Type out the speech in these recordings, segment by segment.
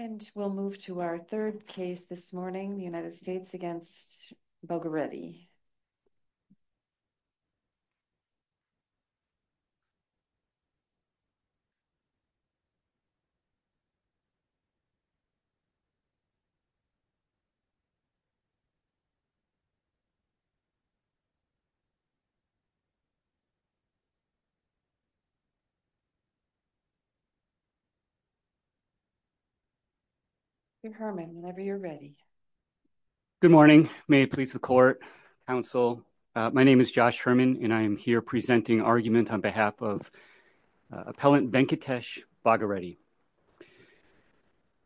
And we'll move to our third case this morning, the United States against Bhogireddy. Good morning. May it please the court, counsel, my name is Josh Herman, and I am here presenting argument on behalf of Appellant Venkatesh Bhogireddy.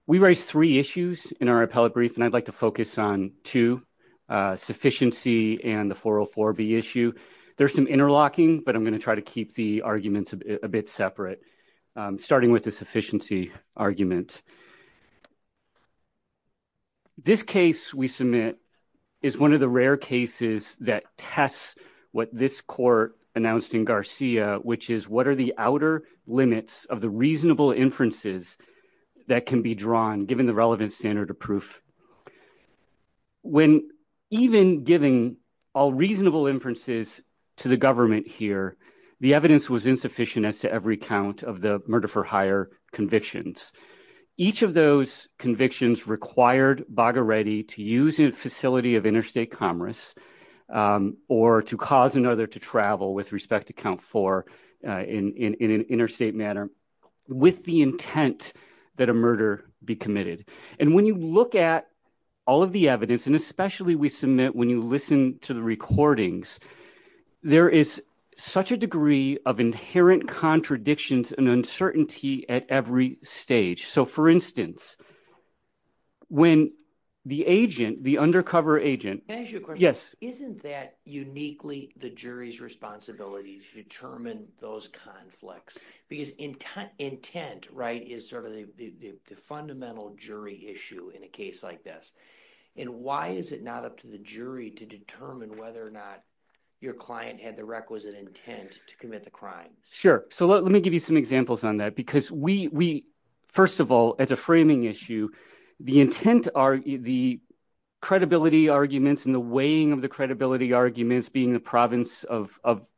We raised three issues in our appellate brief, and I'd like to focus on two, sufficiency and the 404B issue. There's some interlocking, but I'm going to try to keep the arguments a bit separate, starting with the sufficiency argument. This case we submit is one of the rare cases that tests what this court announced in Garcia, which is what are the outer limits of the reasonable inferences that can be drawn given the relevant standard of proof? When even giving all reasonable inferences to the government here, the evidence was insufficient as to every count of the murder for hire convictions. Each of those convictions required Bhogireddy to use a facility of interstate commerce or to cause another to travel with respect to count four in an interstate manner with the intent that a murder be committed. And when you look at all of the evidence, and especially we submit when you listen to the recordings, there is such a degree of inherent contradictions and uncertainty at every stage. So for instance, when the agent, the undercover agent – Can I ask you a question? Yes. Isn't that uniquely the jury's responsibility to determine those conflicts? Because intent is sort of the fundamental jury issue in a case like this. And why is it not up to the jury to determine whether or not your client had the requisite intent to commit the crime? Sure. So let me give you some examples on that because we – first of all, as a framing issue, the intent – the credibility arguments and the weighing of the credibility arguments being the province of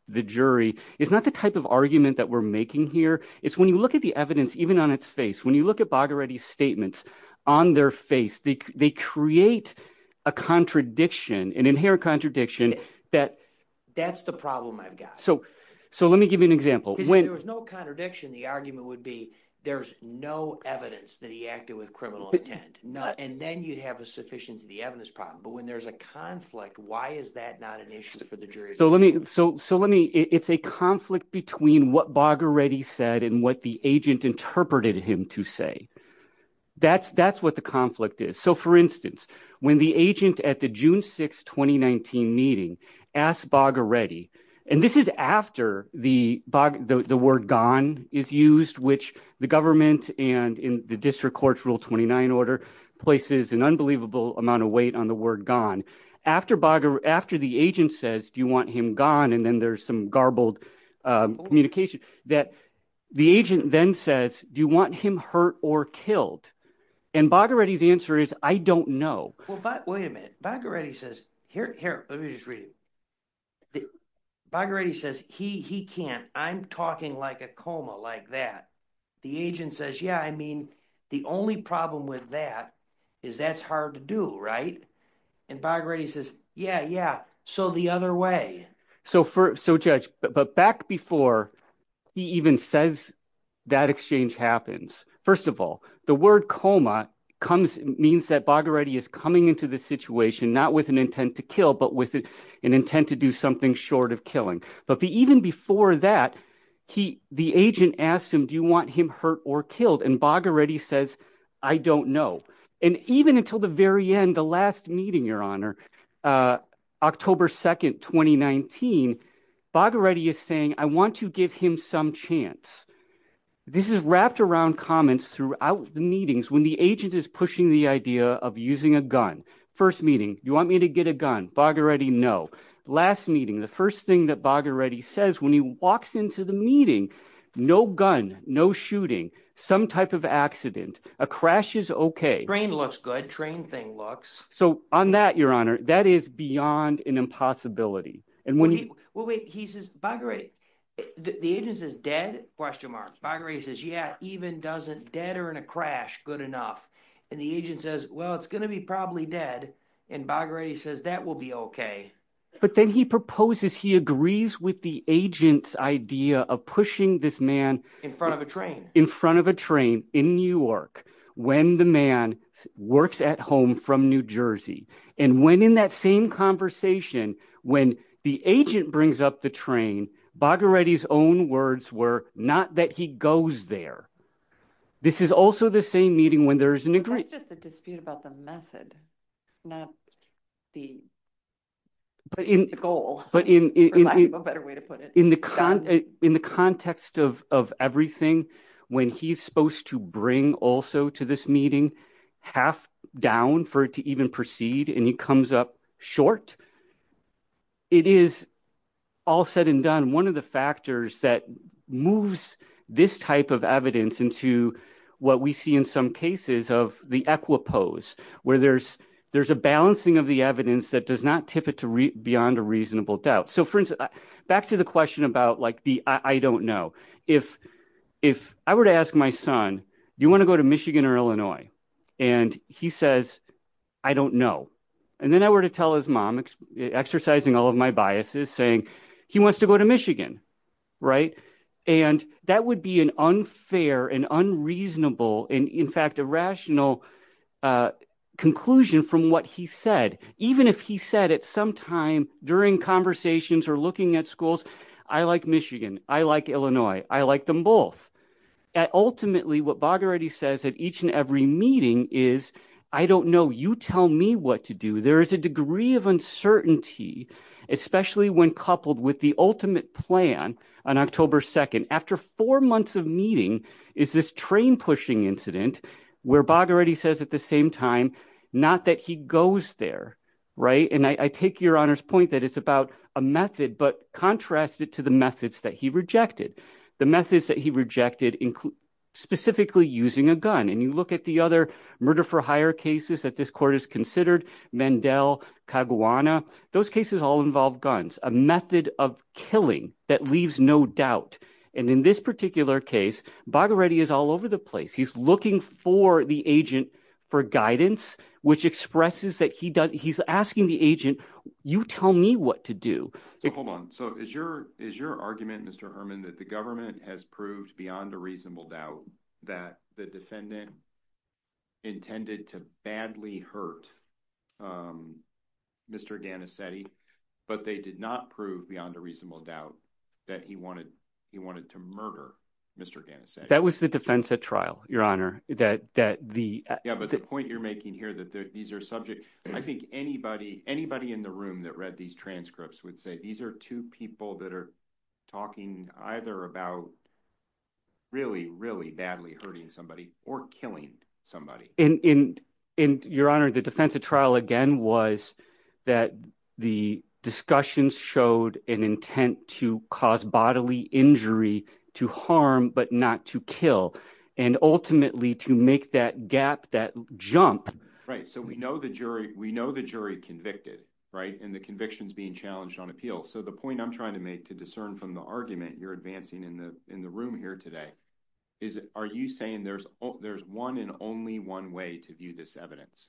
the jury is not the type of argument that we're making here. It's when you look at the evidence even on its face, when you look at Bhogireddy's statements on their face, they create a contradiction, an inherent contradiction that… That's the problem I've got. So let me give you an example. There was no contradiction. The argument would be there's no evidence that he acted with criminal intent, and then you'd have a sufficiency of the evidence problem. But when there's a conflict, why is that not an issue for the jury? So let me – it's a conflict between what Bhogireddy said and what the agent interpreted him to say. That's what the conflict is. So for instance, when the agent at the June 6, 2019 meeting asked Bhogireddy – and this is after the word gone is used, which the government and the district court's Rule 29 order places an unbelievable amount of weight on the word gone. After Bhogireddy – after the agent says, do you want him gone, and then there's some garbled communication, that the agent then says, do you want him hurt or killed? And Bhogireddy's answer is I don't know. Wait a minute. Bhogireddy says – here, let me just read it. Bhogireddy says he can't. I'm talking like a coma like that. The agent says, yeah, I mean the only problem with that is that's hard to do, right? And Bhogireddy says, yeah, yeah, so the other way. So, Judge, but back before he even says that exchange happens, first of all, the word coma comes – means that Bhogireddy is coming into the situation not with an intent to kill but with an intent to do something short of killing. But even before that, the agent asked him, do you want him hurt or killed? And Bhogireddy says, I don't know. And even until the very end, the last meeting, Your Honor, October 2, 2019, Bhogireddy is saying, I want to give him some chance. This is wrapped around comments throughout the meetings when the agent is pushing the idea of using a gun. First meeting, do you want me to get a gun? Bhogireddy, no. Last meeting, the first thing that Bhogireddy says when he walks into the meeting, no gun, no shooting, some type of accident, a crash is OK. Train looks good. Train thing looks. So on that, Your Honor, that is beyond an impossibility. Well, wait. He says – Bhogireddy – the agent says dead? Bhogireddy says, yeah, even doesn't dead or in a crash good enough. And the agent says, well, it's going to be probably dead. And Bhogireddy says that will be OK. But then he proposes – he agrees with the agent's idea of pushing this man… In front of a train. In front of a train in New York when the man works at home from New Jersey. And when in that same conversation, when the agent brings up the train, Bhogireddy's own words were not that he goes there. This is also the same meeting when there is an agreement. That's just a dispute about the method, not the goal. In the context of everything, when he's supposed to bring also to this meeting half down for it to even proceed and he comes up short. It is, all said and done, one of the factors that moves this type of evidence into what we see in some cases of the equipose. Where there's a balancing of the evidence that does not tip it to beyond a reasonable doubt. So, for instance, back to the question about the I don't know. If I were to ask my son, do you want to go to Michigan or Illinois? And he says, I don't know. And then I were to tell his mom, exercising all of my biases, saying he wants to go to Michigan. Right. And that would be an unfair and unreasonable and, in fact, a rational conclusion from what he said. Even if he said at some time during conversations or looking at schools, I like Michigan. I like Illinois. I like them both. Ultimately, what Bagherati says at each and every meeting is, I don't know, you tell me what to do. There is a degree of uncertainty, especially when coupled with the ultimate plan on October 2nd. After four months of meeting is this train pushing incident where Bagherati says at the same time, not that he goes there. Right. And I take your honor's point that it's about a method, but contrast it to the methods that he rejected. The methods that he rejected include specifically using a gun. And you look at the other murder for hire cases that this court has considered. Mandel, Kaguana, those cases all involve guns, a method of killing that leaves no doubt. And in this particular case, Bagherati is all over the place. He's looking for the agent for guidance, which expresses that he does. He's asking the agent, you tell me what to do. Hold on. So is your is your argument, Mr. Herman, that the government has proved beyond a reasonable doubt that the defendant intended to badly hurt Mr. Ganassetti, but they did not prove beyond a reasonable doubt that he wanted he wanted to murder Mr. That was the defense at trial, your honor, that that the point you're making here that these are subject. I think anybody anybody in the room that read these transcripts would say these are two people that are talking either about. Really, really badly hurting somebody or killing somebody in your honor, the defense of trial again was that the discussions showed an intent to cause bodily injury to harm, but not to kill and ultimately to make that gap that jump. Right. So we know the jury we know the jury convicted. Right. And the convictions being challenged on appeal. So the point I'm trying to make to discern from the argument you're advancing in the in the room here today is, are you saying there's there's one and only one way to view this evidence?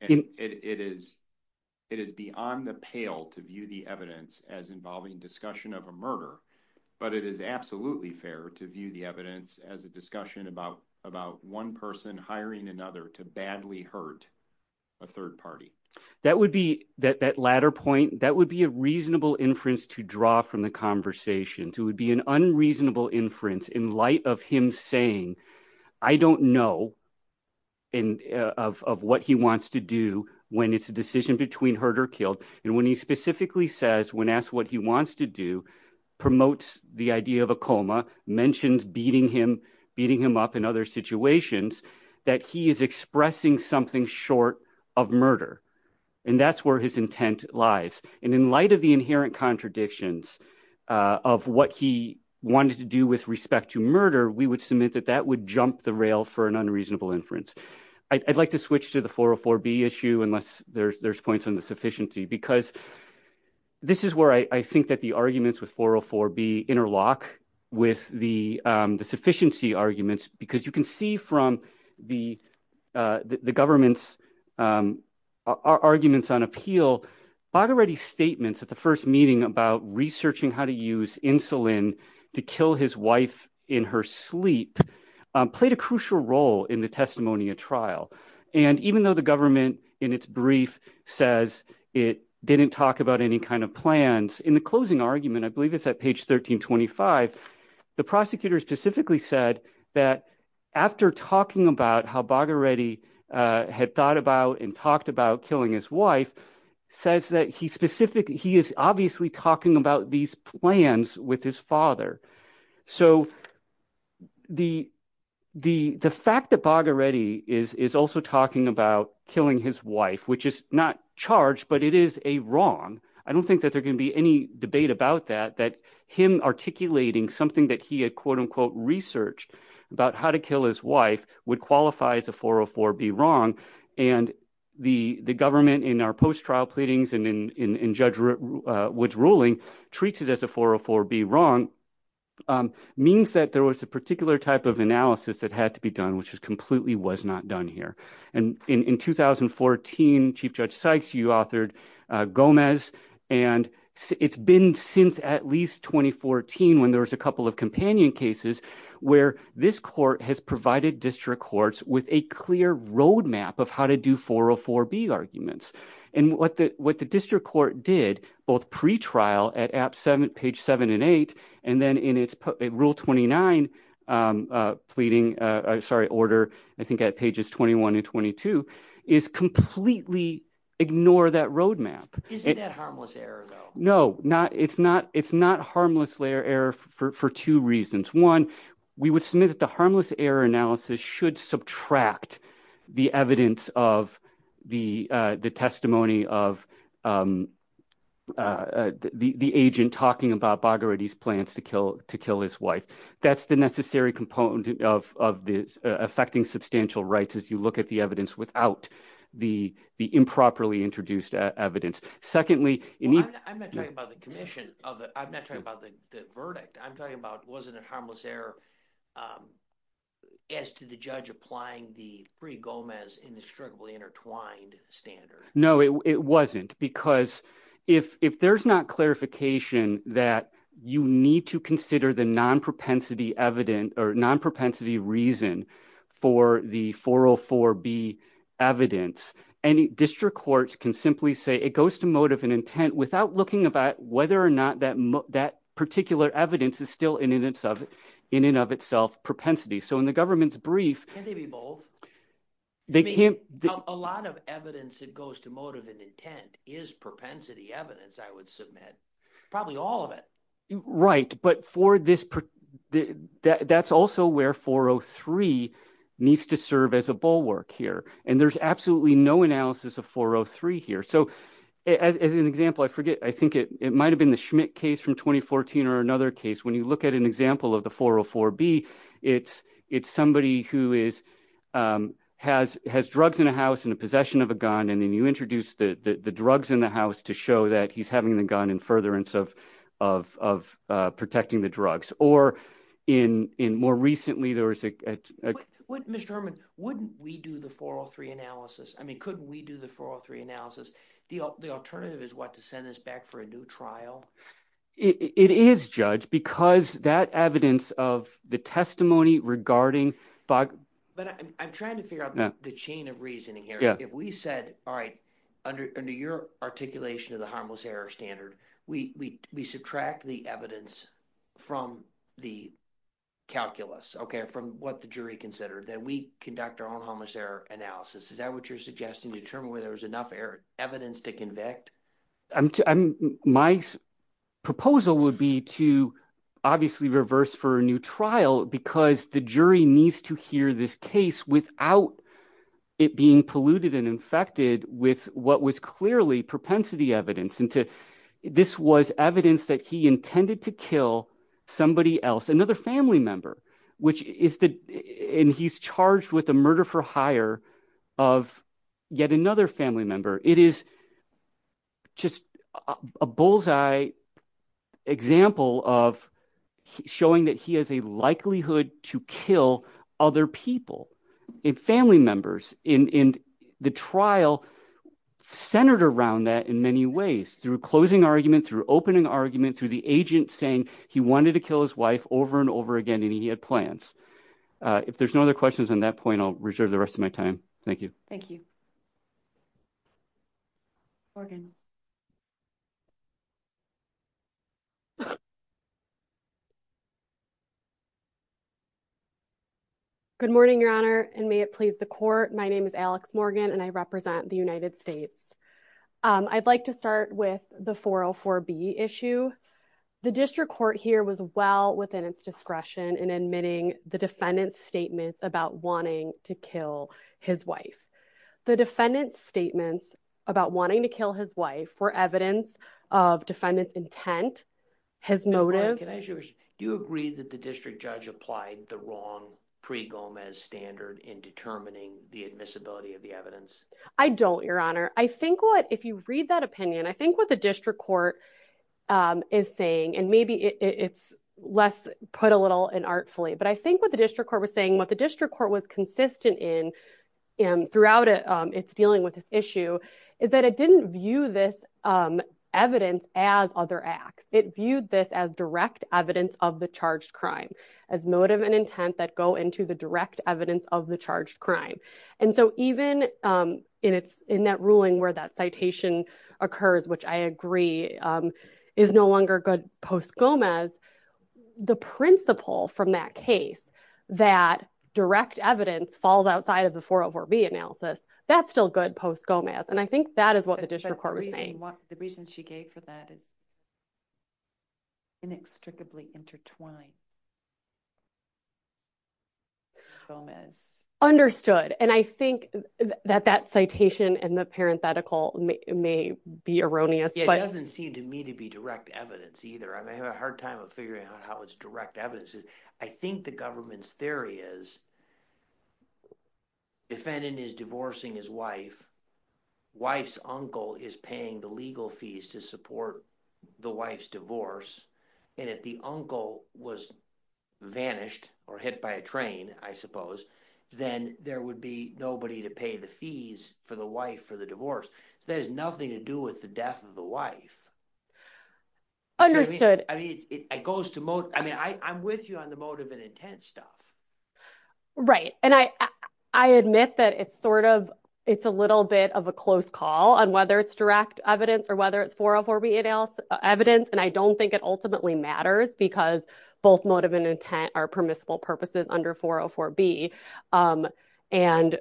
It is it is beyond the pale to view the evidence as involving discussion of a murder. But it is absolutely fair to view the evidence as a discussion about about one person hiring another to badly hurt a third party. That would be that that latter point that would be a reasonable inference to draw from the conversation to would be an unreasonable inference in light of him saying, I don't know, and of what he wants to do when it's a decision between hurt or killed. And when he specifically says when asked what he wants to do, promotes the idea of a coma mentioned beating him beating him up in other situations that he is expressing something short of murder. And that's where his intent lies. And in light of the inherent contradictions of what he wanted to do with respect to murder, we would submit that that would jump the rail for an unreasonable inference. I'd like to switch to the 404B issue unless there's there's points on the sufficiency because this is where I think that the arguments with 404B interlock with the sufficiency arguments because you can see from the government's arguments on appeal. So, already statements at the first meeting about researching how to use insulin to kill his wife in her sleep played a crucial role in the testimony of trial. And even though the government in its brief says it didn't talk about any kind of plans in the closing argument. I believe it's at page 1325. The prosecutor specifically said that after talking about how Baghereti had thought about and talked about killing his wife says that he specifically he is obviously talking about these plans with his father. So, the fact that Baghereti is also talking about killing his wife, which is not charged, but it is a wrong. I don't think that there can be any debate about that, that him articulating something that he had quote unquote research about how to kill his wife would qualify as a 404B wrong. And the government in our post-trial pleadings and in Judge Wood's ruling treats it as a 404B wrong means that there was a particular type of analysis that had to be done, which is completely was not done here. And in 2014, Chief Judge Sykes, you authored Gomez, and it's been since at least 2014 when there was a couple of companion cases where this court has provided district courts with a clear roadmap of how to do 404B arguments. And what the district court did both pretrial at page seven and eight and then in its rule 29 pleading – sorry, order I think at pages 21 and 22 is completely ignore that roadmap. Isn't that harmless error though? No, it's not harmless error for two reasons. One, we would submit that the harmless error analysis should subtract the evidence of the testimony of the agent talking about Baghereti's plans to kill his wife. That's the necessary component of affecting substantial rights as you look at the evidence without the improperly introduced evidence. Well, I'm not talking about the commission of it. I'm not talking about the verdict. I'm talking about was it a harmless error as to the judge applying the free Gomez indestructibly intertwined standard. No, it wasn't, because if there's not clarification that you need to consider the non-propensity evidence or non-propensity reason for the 404B evidence, any district courts can simply say it goes to motive and intent without looking about whether or not that particular evidence is still in and of itself propensity. Can't they be both? I mean a lot of evidence that goes to motive and intent is propensity evidence, I would submit, probably all of it. Right, but for this – that's also where 403 needs to serve as a bulwark here, and there's absolutely no analysis of 403 here. So as an example, I forget – I think it might have been the Schmidt case from 2014 or another case. When you look at an example of the 404B, it's somebody who is – has drugs in a house and a possession of a gun, and then you introduce the drugs in the house to show that he's having the gun in furtherance of protecting the drugs. Mr. Herman, wouldn't we do the 403 analysis? I mean, couldn't we do the 403 analysis? The alternative is what, to send this back for a new trial? It is, Judge, because that evidence of the testimony regarding – But I'm trying to figure out the chain of reasoning here. If we said, all right, under your articulation of the harmless error standard, we subtract the evidence from the calculus, from what the jury considered, then we conduct our own harmless error analysis. Is that what you're suggesting, determine whether there's enough evidence to convict? My proposal would be to obviously reverse for a new trial because the jury needs to hear this case without it being polluted and infected with what was clearly propensity evidence. This was evidence that he intended to kill somebody else, another family member, which is – and he's charged with the murder-for-hire of yet another family member. It is just a bullseye example of showing that he has a likelihood to kill other people, family members. And the trial centered around that in many ways through closing arguments, through opening arguments, through the agent saying he wanted to kill his wife over and over again, and he had plans. If there's no other questions on that point, I'll reserve the rest of my time. Thank you. Morgan. Good morning, Your Honor, and may it please the court. My name is Alex Morgan, and I represent the United States. I'd like to start with the 404B issue. The district court here was well within its discretion in admitting the defendant's statements about wanting to kill his wife. The defendant's statements about wanting to kill his wife were evidence of defendant's intent, his motive. Ms. Morgan, do you agree that the district judge applied the wrong pre-Gomez standard in determining the admissibility of the evidence? I don't, Your Honor. I think what, if you read that opinion, I think what the district court is saying, and maybe it's less put a little inartfully, but I think what the district court was saying, what the district court was consistent in throughout its dealing with this issue, is that it didn't view this evidence as other acts. It viewed this as direct evidence of the charged crime, as motive and intent that go into the direct evidence of the charged crime. And so even in that ruling where that citation occurs, which I agree is no longer good post-Gomez, the principle from that case that direct evidence falls outside of the 404B analysis, that's still good post-Gomez. And I think that is what the district court was saying. The reason she gave for that is inextricably intertwined. Gomez. Understood. And I think that that citation and the parenthetical may be erroneous. It doesn't seem to me to be direct evidence either. I'm having a hard time figuring out how it's direct evidence. I think the government's theory is defendant is divorcing his wife. Wife's uncle is paying the legal fees to support the wife's divorce. And if the uncle was vanished or hit by a train, I suppose, then there would be nobody to pay the fees for the wife for the divorce. There's nothing to do with the death of the wife. I mean, I'm with you on the motive and intent stuff. Right. And I admit that it's sort of, it's a little bit of a close call on whether it's direct evidence or whether it's 404B evidence. And I don't think it ultimately matters because both motive and intent are permissible purposes under 404B. And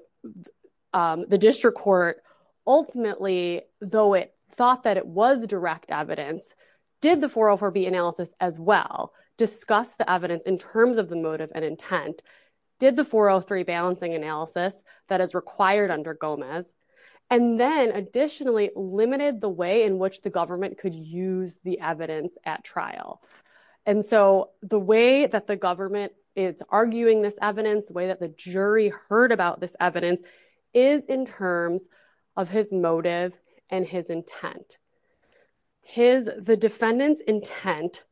the district court, ultimately, though it thought that it was direct evidence, did the 404B analysis as well discuss the evidence in terms of the motive and intent? Did the 403 balancing analysis that is required under Gomez and then additionally limited the way in which the government could use the evidence at trial. And so the way that the government is arguing this evidence, the way that the jury heard about this evidence is in terms of his motive and his intent. The defendant's intent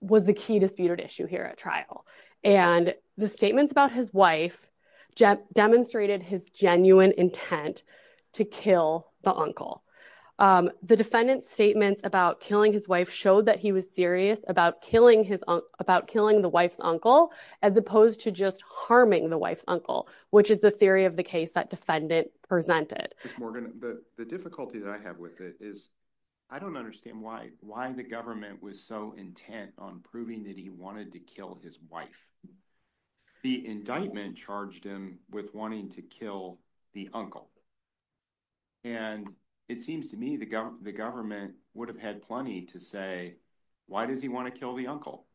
was the key disputed issue here at trial. And the statements about his wife demonstrated his genuine intent to kill the uncle. The defendant's statements about killing his wife showed that he was serious about killing the wife's uncle as opposed to just harming the wife's uncle, which is the theory of the case that defendant presented. Ms. Morgan, the difficulty that I have with it is I don't understand why the government was so intent on proving that he wanted to kill his wife. The indictment charged him with wanting to kill the uncle. And it seems to me the government would have had plenty to say, why does he want to kill the uncle?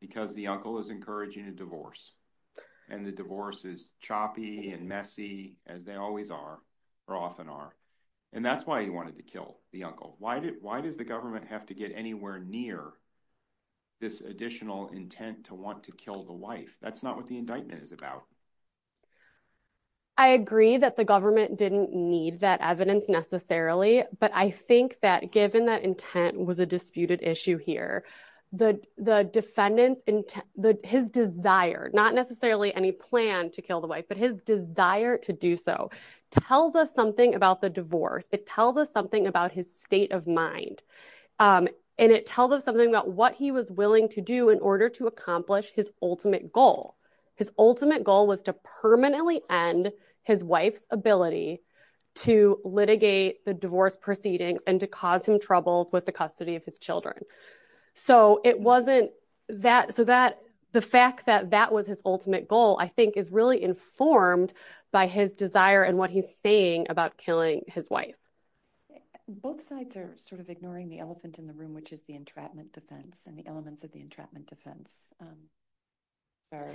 Because the uncle is encouraging a divorce and the divorce is choppy and messy as they always are or often are. And that's why he wanted to kill the uncle. Why did why does the government have to get anywhere near this additional intent to want to kill the wife? That's not what the indictment is about. I agree that the government didn't need that evidence necessarily, but I think that given that intent was a disputed issue here. The defendant's intent, his desire, not necessarily any plan to kill the wife, but his desire to do so tells us something about the divorce. It tells us something about his state of mind. And it tells us something about what he was willing to do in order to accomplish his ultimate goal. His ultimate goal was to permanently end his wife's ability to litigate the divorce proceedings and to cause him troubles with the custody of his children. So it wasn't that so that the fact that that was his ultimate goal, I think, is really informed by his desire and what he's saying about killing his wife. Both sides are sort of ignoring the elephant in the room, which is the entrapment defense and the elements of the entrapment defense are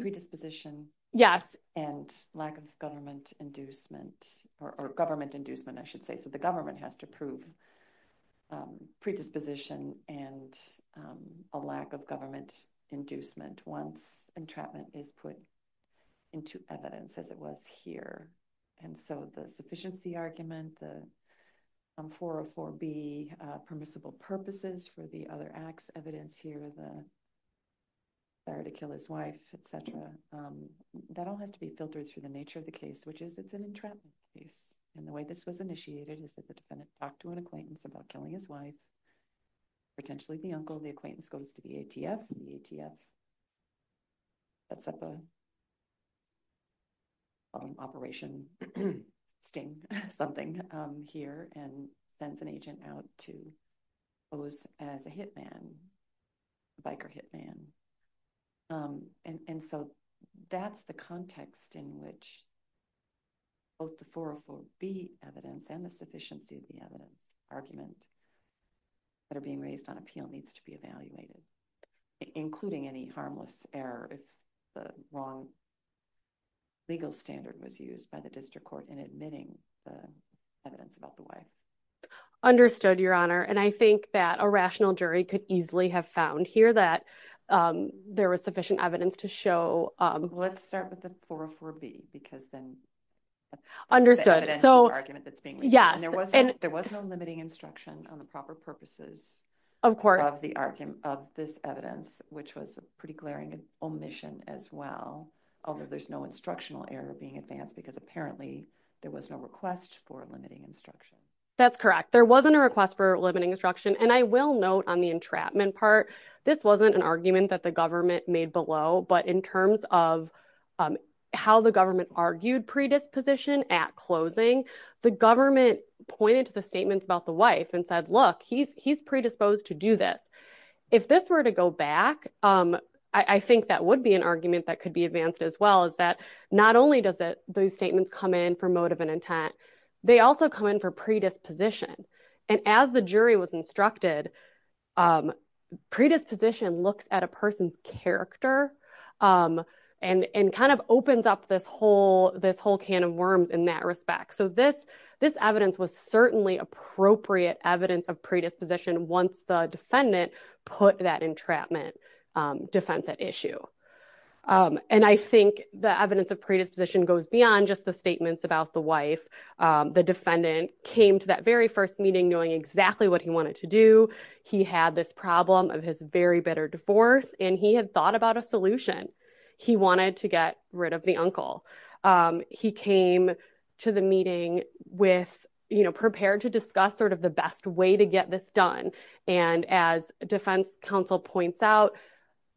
predisposition. Yes. And lack of government inducement or government inducement, I should say. So the government has to prove predisposition and a lack of government inducement once entrapment is put into evidence, as it was here. And so the sufficiency argument, the 404B permissible purposes for the other acts evidence here, the desire to kill his wife, etc. That all has to be filtered through the nature of the case, which is it's an entrapment case. And the way this was initiated is that the defendant talked to an acquaintance about killing his wife, potentially the uncle, the acquaintance goes to the ATF. The ATF sets up an operation sting something here and sends an agent out to pose as a hitman, a biker hitman. And so that's the context in which both the 404B evidence and the sufficiency of the evidence argument that are being raised on appeal needs to be evaluated, including any harmless error if the wrong legal standard was used by the district court in admitting the evidence about the wife. Understood, Your Honor, and I think that a rational jury could easily have found here that there was sufficient evidence to show. Let's start with the 404B because then understood. There was no limiting instruction on the proper purposes of this evidence, which was a pretty glaring omission as well. Although there's no instructional error being advanced because apparently there was no request for limiting instruction. That's correct. There wasn't a request for limiting instruction. And I will note on the entrapment part, this wasn't an argument that the government made below. But in terms of how the government argued predisposition at closing, the government pointed to the statements about the wife and said, look, he's predisposed to do this. If this were to go back, I think that would be an argument that could be advanced as well, is that not only does it those statements come in for motive and intent. They also come in for predisposition. And as the jury was instructed, predisposition looks at a person's character and kind of opens up this whole this whole can of worms in that respect. So this this evidence was certainly appropriate evidence of predisposition once the defendant put that entrapment defense at issue. And I think the evidence of predisposition goes beyond just the statements about the wife. The defendant came to that very first meeting knowing exactly what he wanted to do. He had this problem of his very bitter divorce and he had thought about a solution. He wanted to get rid of the uncle. He came to the meeting with, you know, prepared to discuss sort of the best way to get this done. And as defense counsel points out,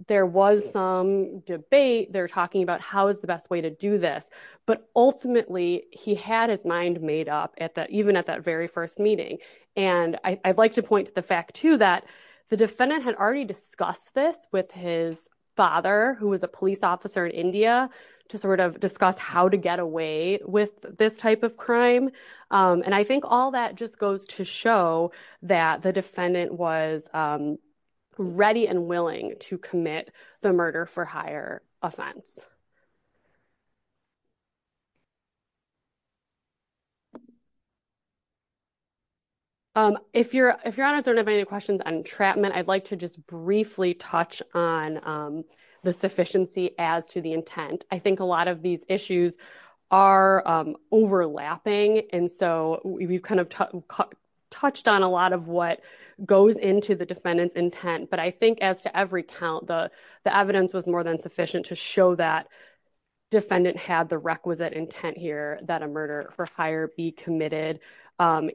there was some debate there talking about how is the best way to do this. But ultimately, he had his mind made up at that even at that very first meeting. And I'd like to point to the fact, too, that the defendant had already discussed this with his father, who was a police officer in India to sort of discuss how to get away with this type of crime. And I think all that just goes to show that the defendant was ready and willing to commit the murder for higher offense. If you're if you're on a sort of any questions on entrapment, I'd like to just briefly touch on the sufficiency as to the intent. I think a lot of these issues are overlapping. And so we've kind of touched on a lot of what goes into the defendant's intent. But I think as to every count, the evidence was more than sufficient to show that defendant had the requisite intent here that a murder for hire be committed.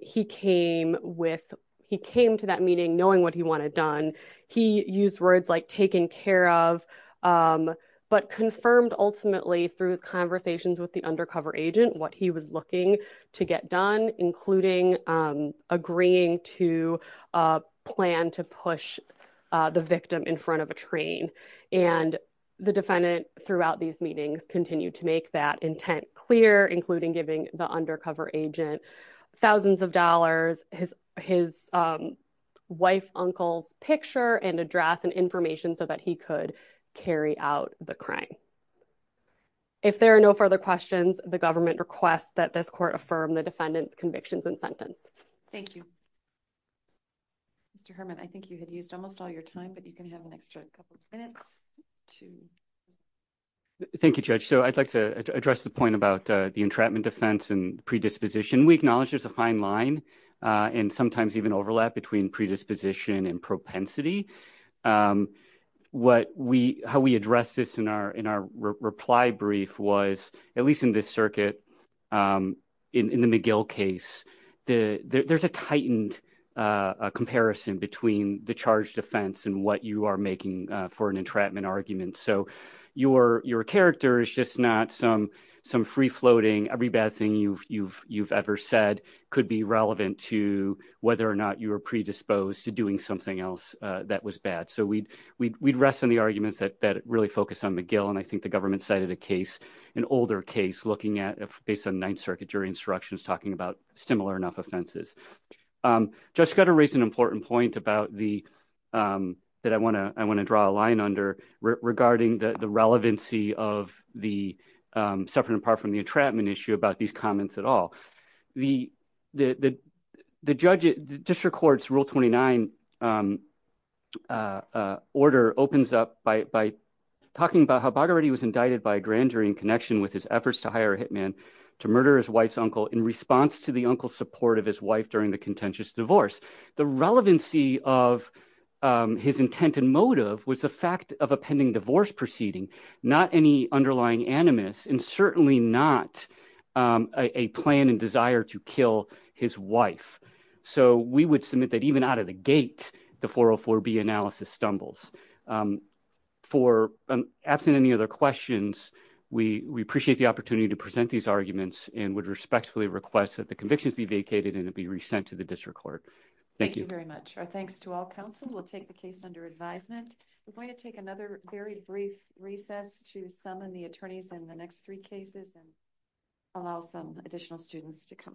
He came with he came to that meeting knowing what he wanted done. He used words like taken care of, but confirmed ultimately through his conversations with the undercover agent what he was looking to get done, including agreeing to plan to push the victim in front of a train. And the defendant throughout these meetings continue to make that intent clear, including giving the undercover agent thousands of dollars, his his wife uncle's picture and address and information so that he could carry out the crime. If there are no further questions, the government requests that this court affirm the defendant's convictions and sentence. Thank you. Mr. Herman, I think you had used almost all your time, but you can have an extra couple of minutes to. Thank you, Judge. So I'd like to address the point about the entrapment defense and predisposition. We acknowledge there's a fine line and sometimes even overlap between predisposition and propensity. What we how we address this in our in our reply brief was, at least in this circuit in the McGill case, the there's a tightened comparison between the charge defense and what you are making for an entrapment argument. So your your character is just not some some free floating every bad thing you've you've you've ever said could be relevant to whether or not you were predisposed to doing something else that was bad. So we'd we'd we'd rest on the arguments that that really focus on McGill. And I think the government cited a case, an older case looking at based on Ninth Circuit jury instructions talking about similar enough offenses. Just got to raise an important point about the that I want to I want to draw a line under regarding the relevancy of the separate apart from the entrapment issue about these comments at all. The, the, the, the judge it just records rule 29 order opens up by talking about how body was indicted by grand jury in connection with his efforts to hire a hitman to murder his wife's uncle in response to the uncle support of his wife during the contentious divorce. The relevancy of his intent and motive was the fact of a pending divorce proceeding, not any underlying animus and certainly not a plan and desire to kill his wife. So we would submit that even out of the gate, the 404 be analysis stumbles for absent any other questions. We, we appreciate the opportunity to present these arguments and would respectfully request that the convictions be vacated and it'd be resent to the district court. Thank you very much. Our thanks to all counsel will take the case under advisement. We're going to take another very brief recess to summon the attorneys in the next three cases and allow some additional students to come in.